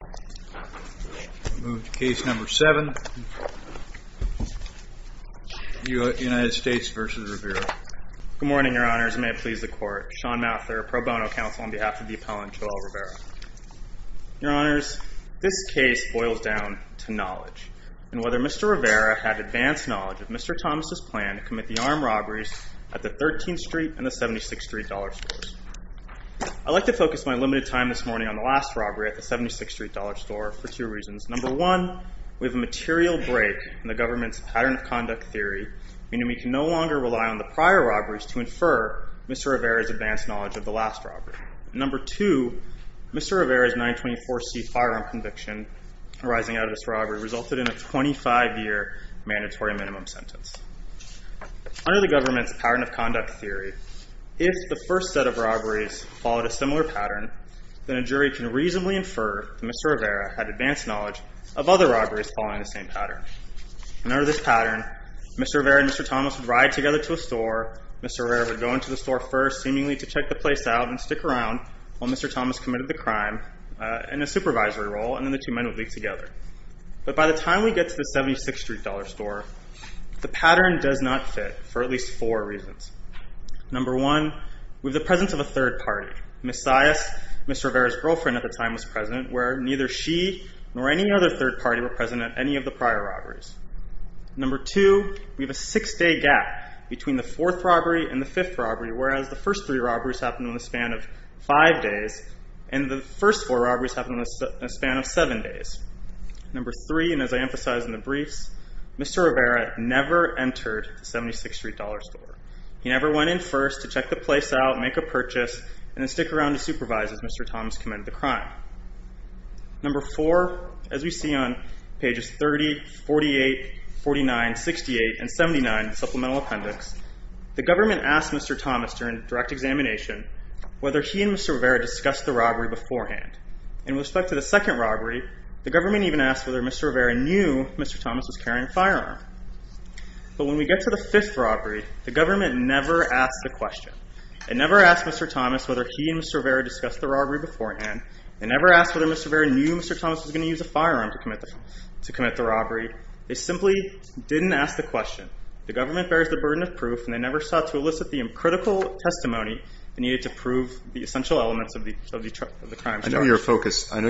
Good morning, your honors. May it please the court. Sean Mather, pro bono counsel on behalf of the appellant Joel Rivera. Your honors, this case boils down to knowledge, and whether Mr. Rivera had advanced knowledge of Mr. Thomas' plan to commit the armed robberies at the 13th Street and the 76th Street dollar stores. I'd like to focus my limited time this morning on the last robbery at the 76th Street dollar store for two reasons. Number one, we have a material break in the government's pattern of conduct theory, meaning we can no longer rely on the prior robberies to infer Mr. Rivera's advanced knowledge of the last robbery. Number two, Mr. Rivera's 924C firearm conviction arising out of this robbery resulted in a 25-year mandatory minimum sentence. Under the government's pattern of conduct theory, if the first set of robberies followed a similar pattern, then a jury can reasonably infer that Mr. Rivera had advanced knowledge of other robberies following the same pattern. And under this pattern, Mr. Rivera and Mr. Thomas would ride together to a store. Mr. Rivera would go into the store first, seemingly to check the place out and stick around while Mr. Thomas committed the crime in a supervisory role, and then the two men would leave together. But by the time we get to the 76th Street dollar store, the pattern does not fit for at least four reasons. Number one, we have the presence of a third party. Ms. Sias, Mr. Rivera's girlfriend at the time, was present, where neither she nor any other third party were present at any of the prior robberies. Number two, we have a six-day gap between the fourth robbery and the fifth robbery, whereas the first three robberies happened in the span of five days, and the first four robberies happened in the span of seven days. Number three, and as I emphasized in the briefs, Mr. Rivera never entered the 76th Street dollar store. He never went in first to check the place out, make a purchase, and then stick around to supervise as Mr. Thomas committed the crime. Number four, as we see on pages 30, 48, 49, 68, and 79 of the Supplemental Appendix, the government asked Mr. Thomas during direct examination whether he and Mr. Rivera discussed the robbery beforehand. In respect to the second robbery, the government even asked whether Mr. Rivera knew Mr. Thomas was carrying a firearm. But when we get to the fifth robbery, the government never asked the question. They never asked whether Mr. Rivera knew Mr. Thomas was going to use a firearm to commit the robbery. They simply didn't ask the question. The government bears the burden of proof, and they never sought to elicit the critical testimony they needed to prove the essential elements of the crime story. I know you're focused on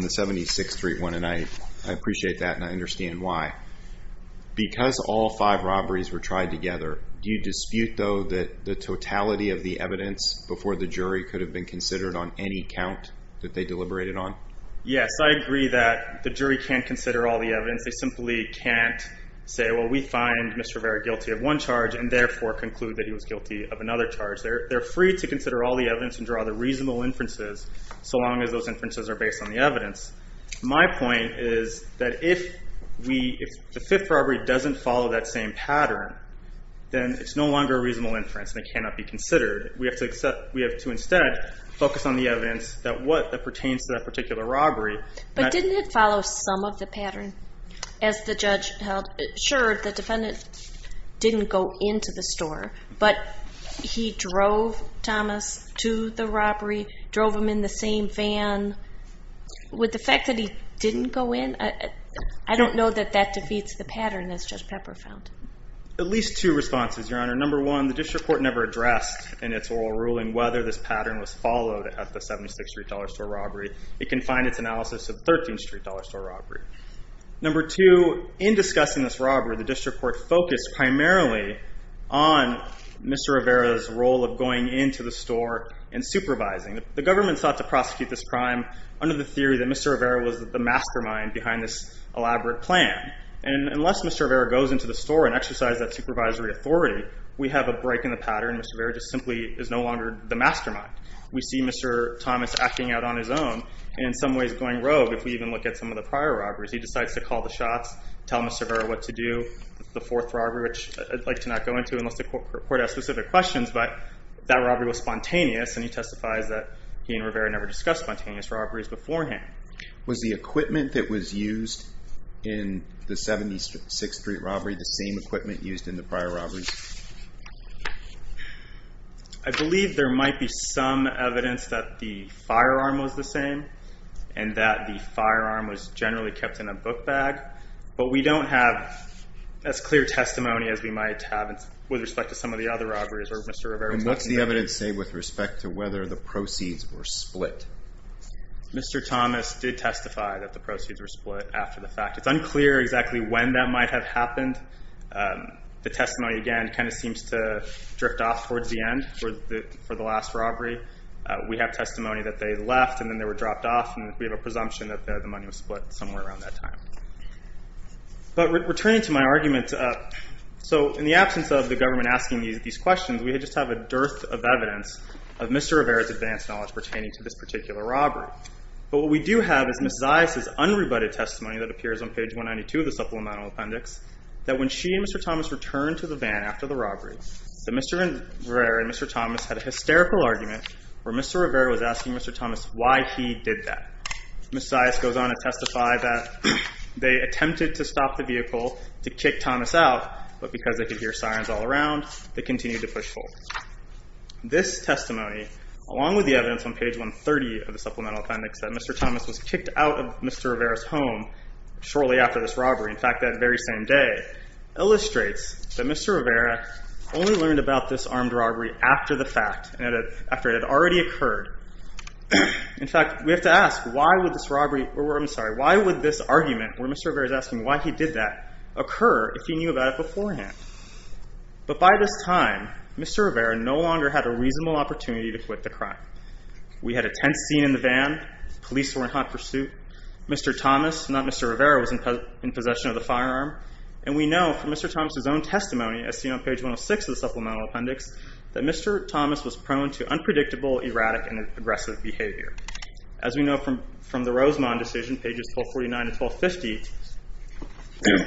the 76th Street one, and I appreciate that, and I understand why. Because all five robberies were tried together, do you dispute, though, that the totality of the evidence before the jury could have been considered on any count that they deliberated on? Yes, I agree that the jury can't consider all the evidence. They simply can't say, well, we find Mr. Rivera guilty of one charge and therefore conclude that he was guilty of another charge. They're free to consider all the evidence and draw the reasonable inferences so long as those inferences are based on the evidence. My point is that if the fifth robbery doesn't follow that same pattern, then it's no longer a reasonable inference and it cannot be considered. We have to instead focus on the evidence that pertains to that particular robbery. But didn't it follow some of the pattern? As the judge held assured, the defendant didn't go into the store, but he drove Thomas to the robbery, drove him in the same van. With the fact that he didn't go in, I don't know that that defeats the pattern, as Judge Pepper found. At least two responses, Your Honor. Number one, the district court never addressed in its oral ruling whether this pattern was followed at the 76th Street dollar store robbery. It confined its analysis to the 13th Street dollar store robbery. Number two, in discussing this robbery, the district court focused primarily on Mr. Rivera's role of going into the store and supervising. The government sought to prosecute this crime under the theory that Mr. Rivera was the mastermind behind this elaborate plan. And unless Mr. Rivera goes into the store and exercises that supervisory authority, we have a break in the pattern. Mr. Rivera just simply is no longer the mastermind. We see Mr. Thomas acting out on his own, and in some ways going rogue, if we even look at some of the prior robberies. He decides to call the shots, tell Mr. Rivera what to do. The fourth robbery, which I'd like to not go into unless the court has specific questions, but that robbery was spontaneous, and he testifies that he and Rivera never discussed spontaneous robberies beforehand. Was the equipment that was used in the 76th Street robbery the same equipment used in the prior robberies? I believe there might be some evidence that the firearm was the same, and that the firearm was generally kept in a book bag. But we don't have as clear testimony as we might have with respect to some of the other robberies where Mr. Rivera's not involved. And what's the evidence say with respect to whether the proceeds were split? Mr. Thomas did testify that the proceeds were split after the fact. It's unclear exactly when that might have happened. The testimony, again, kind of seems to drift off towards the end for the last robbery. We have testimony that they left and then they were dropped off, and we have a presumption that the money was split somewhere around that time. But returning to my argument, so in the absence of the government asking these questions, we just have a dearth of evidence of Mr. Rivera's advanced knowledge pertaining to this particular robbery. But what we do have is Ms. Zias' unrebutted testimony that appears on page 192 of the Supplemental Appendix, that when she and Mr. Thomas returned to the van after the robbery, that Mr. Rivera and Mr. Thomas had a hysterical argument where Mr. Rivera was asking Mr. Thomas why he did that. Ms. Zias goes on to testify that they attempted to stop the vehicle to kick Thomas out, but because they could hear sirens all around, they continued to push forward. This testimony, along with the evidence on page 130 of the Supplemental Appendix, that Mr. Thomas was kicked out of Mr. Rivera's home shortly after this robbery, in fact, that very same day, illustrates that Mr. Rivera only learned about this armed robbery after the fact, after it had already occurred. In fact, we have to ask, why would this argument where Mr. Rivera is asking why he did that occur if he knew about it beforehand? But by this time, Mr. Rivera no longer had a reasonable opportunity to quit the crime. We had a tense scene in the van, police were in hot pursuit, Mr. Thomas, not Mr. Rivera, was in possession of the firearm, and we know from Mr. Thomas' own testimony, as seen on page 106 of the Supplemental Appendix, that Mr. Thomas was prone to unpredictable, erratic, and aggressive behavior. As we know from the Rosemont decision, pages 1249 and 1250,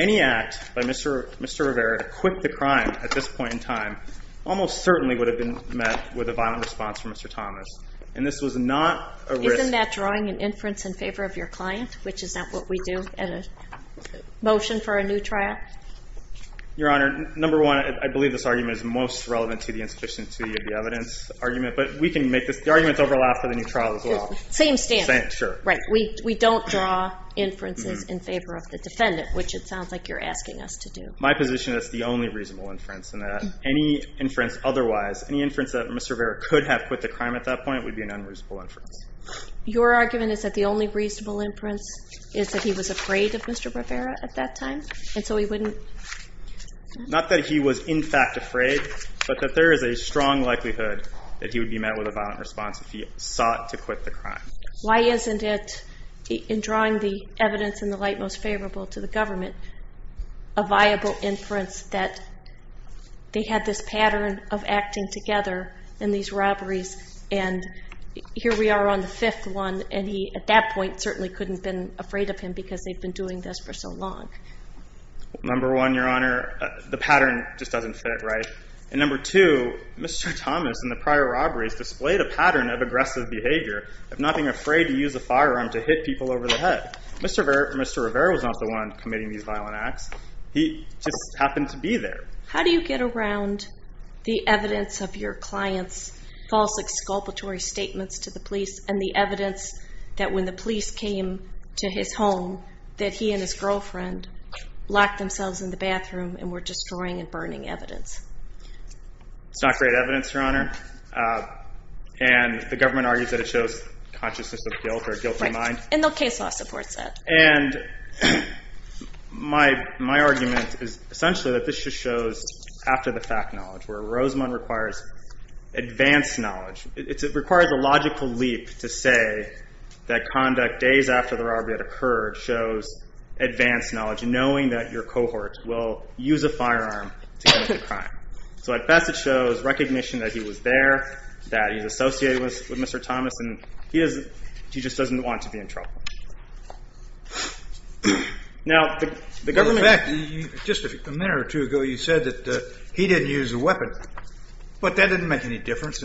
any act by Mr. Rivera to quit the crime at this point in time almost certainly would have been met with a violent response from Mr. Thomas, and this was not a risk. Isn't that drawing an inference in favor of your client, which is not what we do in a motion for a new trial? Your Honor, number one, I believe this argument is most relevant to the insufficiency of the evidence argument, but we can make this, the arguments overlap for the new trial as well. Same standard. Same, sure. Right, we don't draw inferences in favor of the defendant, which it sounds like you're asking us to do. My position is it's the only reasonable inference, and that any inference otherwise, any inference that Mr. Rivera could have quit the crime at that point would be an unreasonable inference. Your argument is that the only reasonable inference is that he was afraid of Mr. Rivera at that time, and so he wouldn't? Not that he was in fact afraid, but that there is a strong likelihood that he would be met with a violent response if he sought to quit the crime. Why isn't it, in drawing the evidence in the light most favorable to the government, a viable inference that they had this pattern of acting together in these robberies, and here we are on the fifth one, and he at that point certainly couldn't have been afraid of him because they've been doing this for so long. Number one, Your Honor, the pattern just doesn't fit, right? And number two, Mr. Thomas in the prior robberies displayed a pattern of aggressive behavior, of not being afraid to use a firearm to hit people over the head. Mr. Rivera was not the one committing these violent acts. He just happened to be there. How do you get around the evidence of your client's false exculpatory statements to the police, and the evidence that when the police came to his home that he and his girlfriend locked themselves in the bathroom and were destroying and burning evidence? It's not great evidence, Your Honor, and the government argues that it shows consciousness of guilt or a guilty mind. Right, and the case law supports that. And my argument is essentially that this just shows after-the-fact knowledge, where Rosamond requires advanced knowledge. It requires a logical leap to say that conduct days after the robbery had occurred shows advanced knowledge, knowing that your cohort will use a firearm to commit a crime. So at best it shows recognition that he was there, that he's associated with Mr. Thomas, and he just doesn't want to be in trouble. In fact, just a minute or two ago you said that he didn't use a weapon, but that didn't make any difference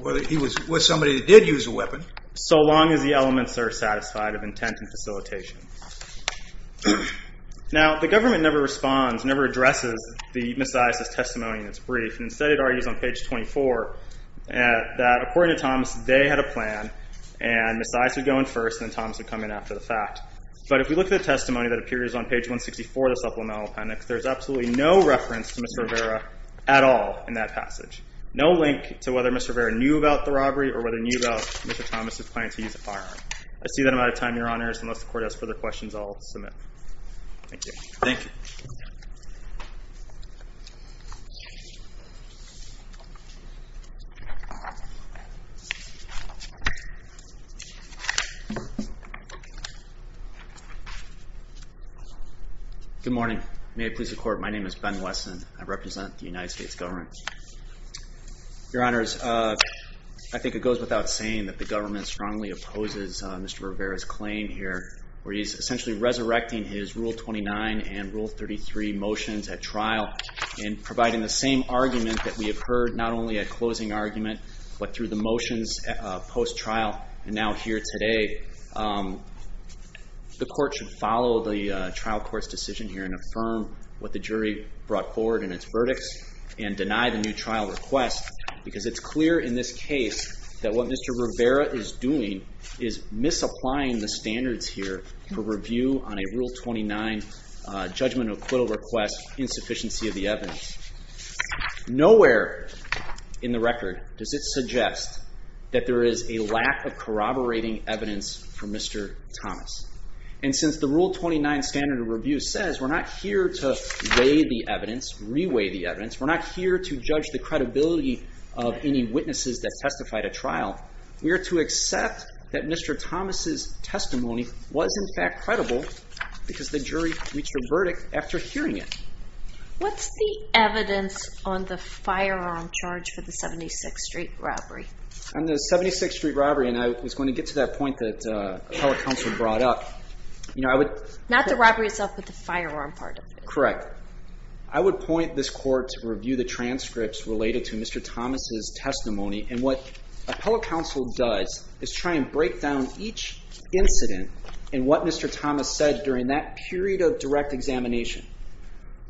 whether he was somebody that did use a weapon, so long as the elements are satisfied of intent and facilitation. Now, the government never responds, never addresses the misogynist's testimony in its brief, and instead it argues on page 24 that, according to Thomas, they had a plan, and Miss Ives would go in first, and then Thomas would come in after the fact. But if we look at the testimony that appears on page 164 of the supplemental appendix, there's absolutely no reference to Mr. Rivera at all in that passage, no link to whether Mr. Rivera knew about the robbery or whether he knew about Mr. Thomas' plan to use a firearm. I see that I'm out of time, Your Honors. Unless the Court has further questions, I'll submit. Thank you. Thank you. Good morning. May it please the Court, my name is Ben Wesson. I represent the United States government. Your Honors, I think it goes without saying that the government strongly opposes Mr. Rivera's claim here, where he's essentially resurrecting his Rule 29 and Rule 33 motions at trial and providing the same argument that we have heard not only at closing argument, but through the motions post-trial and now here today. The Court should follow the trial court's decision here and affirm what the jury brought forward in its verdicts and deny the new trial request because it's clear in this case that what Mr. Rivera is doing is misapplying the standards here for review on a Rule 29 judgmental acquittal request, insufficiency of the evidence. Nowhere in the record does it suggest that there is a lack of corroborating evidence for Mr. Thomas. And since the Rule 29 standard of review says we're not here to weigh the evidence, re-weigh the evidence, we're not here to judge the credibility of any witnesses that testified at trial, we are to accept that Mr. Thomas' testimony was in fact credible because the jury reached a verdict after hearing it. What's the evidence on the firearm charge for the 76th Street robbery? On the 76th Street robbery, and I was going to get to that point that appellate counsel brought up. Not the robbery itself, but the firearm part of it. Correct. I would point this Court to review the transcripts related to Mr. Thomas' testimony and what appellate counsel does is try and break down each incident and what Mr. Thomas said during that period of direct examination.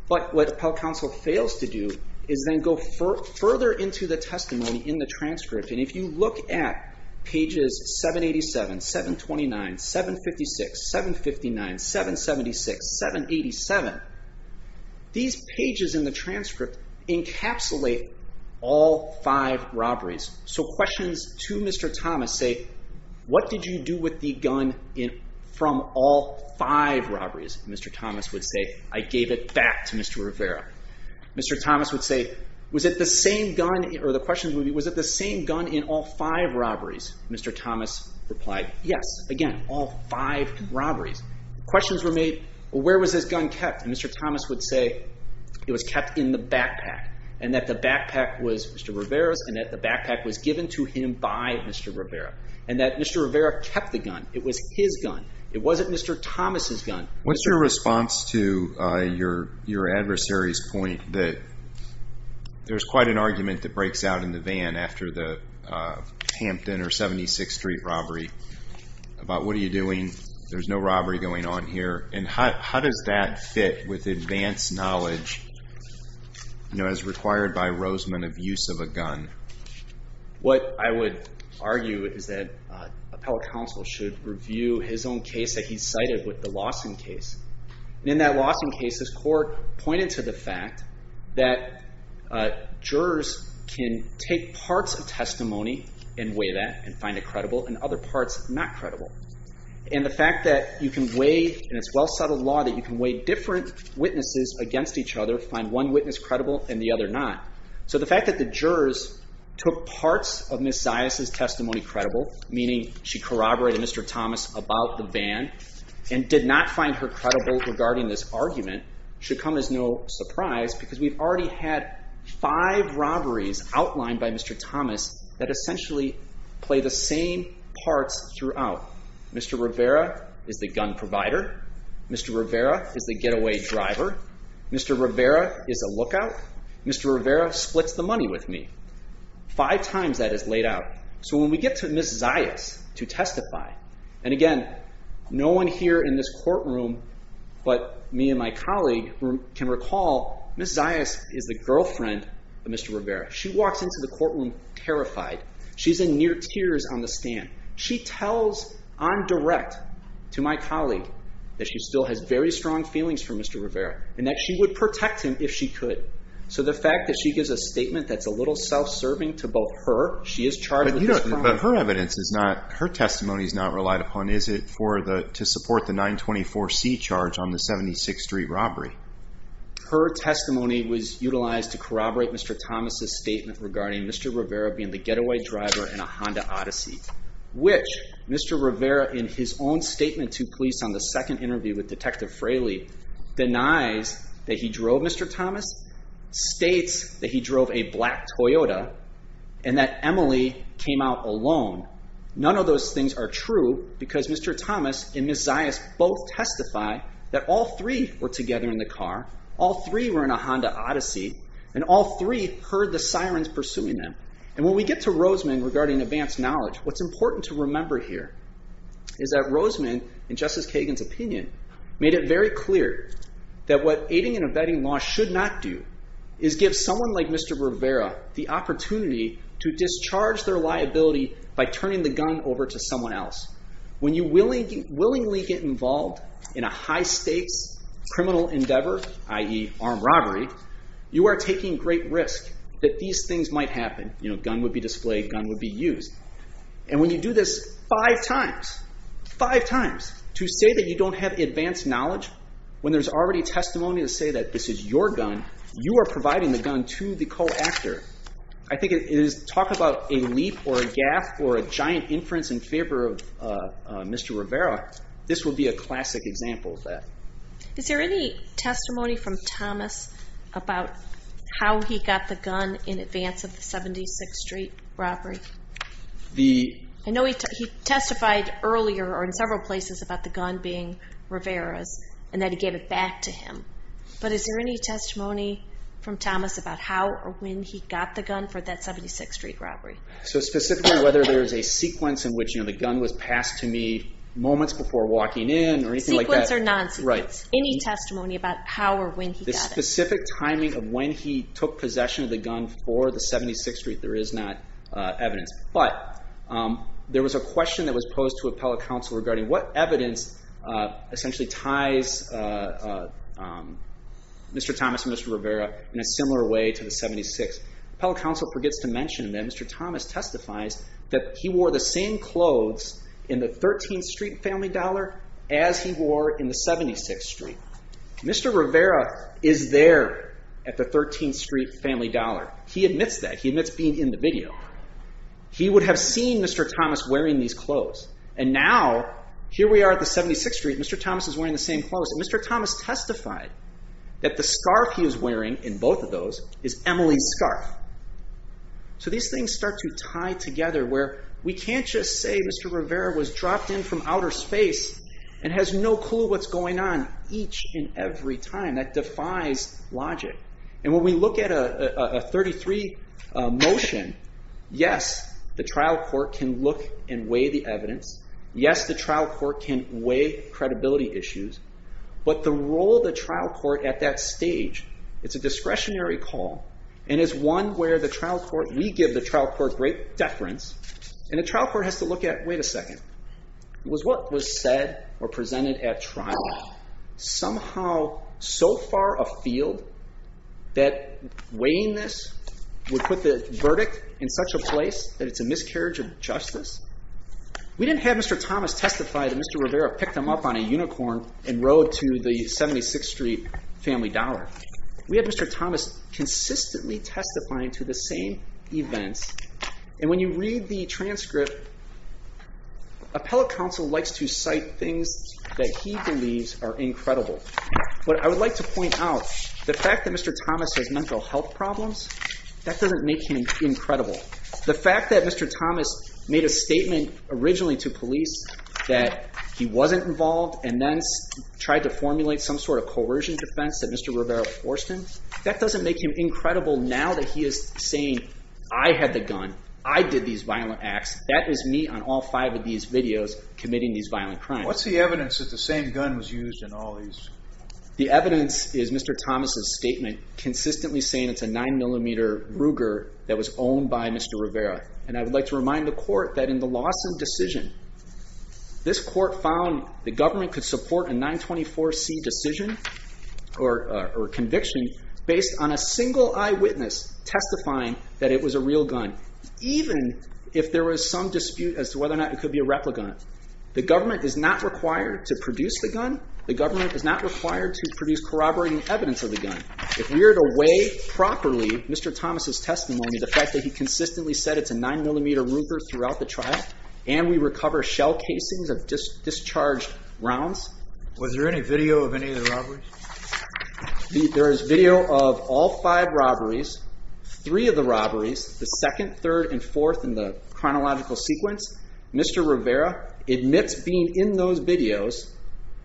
But what appellate counsel fails to do is then go further into the testimony in the transcript. And if you look at pages 787, 729, 756, 759, 776, 787, these pages in the transcript encapsulate all five robberies. So questions to Mr. Thomas say, what did you do with the gun from all five robberies? Mr. Thomas would say, I gave it back to Mr. Rivera. Mr. Thomas would say, was it the same gun, or the question would be, was it the same gun in all five robberies? Mr. Thomas replied, yes. Again, all five robberies. Questions were made, where was this gun kept? Mr. Thomas would say it was kept in the backpack and that the backpack was Mr. Rivera's and that the backpack was given to him by Mr. Rivera. And that Mr. Rivera kept the gun. It was his gun. It wasn't Mr. Thomas' gun. What's your response to your adversary's point that there's quite an argument that breaks out in the van after the Hampton or 76th Street robbery about what are you doing, there's no robbery going on here, and how does that fit with advanced knowledge as required by Roseman of use of a gun? What I would argue is that appellate counsel should review his own case that he cited with the Lawson case. In that Lawson case, his court pointed to the fact that jurors can take parts of testimony and weigh that and find it credible and other parts not credible. And the fact that you can weigh, in this well-settled law, that you can weigh different witnesses against each other, find one witness credible and the other not. So the fact that the jurors took parts of Ms. Zias' testimony credible, meaning she corroborated Mr. Thomas about the van and did not find her credible regarding this argument, should come as no surprise because we've already had five robberies outlined by Mr. Thomas that essentially play the same parts throughout. Mr. Rivera is the gun provider. Mr. Rivera is the getaway driver. Mr. Rivera is a lookout. Mr. Rivera splits the money with me. Five times that is laid out. So when we get to Ms. Zias to testify, and again, no one here in this courtroom but me and my colleague can recall Ms. Zias is the girlfriend of Mr. Rivera. She walks into the courtroom terrified. She's in near tears on the stand. She tells on direct to my colleague that she still has very strong feelings for Mr. Rivera and that she would protect him if she could. So the fact that she gives a statement that's a little self-serving to both her she is charged with this crime. But her evidence is not, her testimony is not relied upon. Is it to support the 924C charge on the 76th Street robbery? Her testimony was utilized to corroborate Mr. Thomas' statement regarding Mr. Rivera being the getaway driver in a Honda Odyssey which Mr. Rivera in his own statement to police on the second interview with Detective Fraley denies that he drove Mr. Thomas, states that he drove a black Toyota and that Emily came out alone. None of those things are true because Mr. Thomas and Ms. Zias both testify that all three were together in the car, all three were in a Honda Odyssey, and all three heard the sirens pursuing them. And when we get to Rosemann regarding advanced knowledge, what's important to remember here is that Rosemann, in Justice Kagan's opinion, made it very clear that what aiding and abetting law should not do is give someone like Mr. Rivera the opportunity to discharge their liability by turning the gun over to someone else. When you willingly get involved in a high-stakes criminal endeavor, i.e., armed robbery, you are taking great risk that these things might happen. You know, gun would be displayed, gun would be used. And when you do this five times, five times to say that you don't have advanced knowledge, when there's already testimony to say that this is your gun, you are providing the gun to the co-actor. I think it is talk about a leap or a gap or a giant inference in favor of Mr. Rivera, this would be a classic example of that. Is there any testimony from Thomas about how he got the gun in advance of the 76th Street robbery? I know he testified earlier or in several places about the gun being Rivera's and that he gave it back to him. But is there any testimony from Thomas about how or when he got the gun for that 76th Street robbery? Specifically, whether there's a sequence in which the gun was passed to me moments before walking in or anything like that. Sequence or non-sequence. Any testimony about how or when he got it. The specific timing of when he took possession of the gun for the 76th Street, there is not evidence. But there was a question that was posed to appellate counsel regarding what evidence essentially ties Mr. Thomas and Mr. Rivera in a similar way to the 76th. Appellate counsel forgets to mention that Mr. Thomas testifies that he wore the same clothes in the 13th Street Family Dollar as he wore in the 76th Street. Mr. Rivera is there at the 13th Street Family Dollar. He admits that. He admits being in the video. He would have seen Mr. Thomas wearing these clothes. And now, here we are at the 76th Street, Mr. Thomas is wearing the same clothes. And Mr. Thomas testified that the scarf he is wearing in both of those is Emily's scarf. So these things start to tie together where we can't just say Mr. Rivera was dropped in from outer space and has no clue what's going on each and every time. That defies logic. And when we look at a 33 motion, yes, the trial court can look and weigh the evidence. Yes, the trial court can weigh credibility issues. But the role of the trial court at that stage, it's a discretionary call. And it's one where we give the trial court great deference. And the trial court has to look at, wait a second. Was what was said or presented at trial somehow so far afield that weighing this would put the verdict in such a place that it's a miscarriage of justice? We didn't have Mr. Thomas testify that Mr. Rivera picked him up on a unicorn and rode to the 76th Street Family Dollar. We have Mr. Thomas consistently testifying to the same events. And when you read the transcript, appellate counsel likes to cite things that he believes are incredible. But I would like to point out the fact that Mr. Thomas has mental health problems, that doesn't make him incredible. The fact that Mr. Thomas made a statement originally to police that he wasn't involved and then tried to formulate some sort of coercion defense that Mr. Rivera forced him, that doesn't make him incredible now that he is saying I had the gun, I did these violent acts, that is me on all five of these videos committing these violent crimes. What's the evidence that the same gun was used in all these? The evidence is Mr. Thomas' statement consistently saying it's a 9mm Ruger that was owned by Mr. Rivera. And I would like to remind the court that in the Lawson decision, this court found the government could support a 924C decision or conviction based on a single eyewitness testifying that it was a real gun, even if there was some dispute as to whether or not it could be a replicant. The government is not required to produce the gun. The government is not required to produce corroborating evidence of the gun. If we are to weigh properly Mr. Thomas' testimony, the fact that he consistently said it's a 9mm Ruger throughout the trial and we recover shell casings of discharged rounds. Was there any video of any of the robberies? There is video of all five robberies, three of the robberies, the second, third, and fourth in the chronological sequence. Mr. Rivera admits being in those videos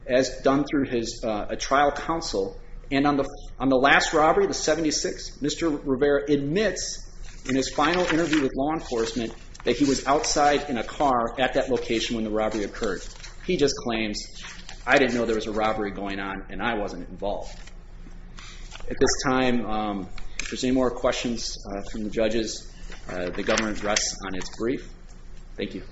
as done through a trial counsel, and on the last robbery, the 76th, Mr. Rivera admits in his final interview with law enforcement that he was outside in a car at that location when the robbery occurred. He just claims, I didn't know there was a robbery going on and I wasn't involved. At this time, if there's any more questions from the judges, the government rests on its brief. Thank you.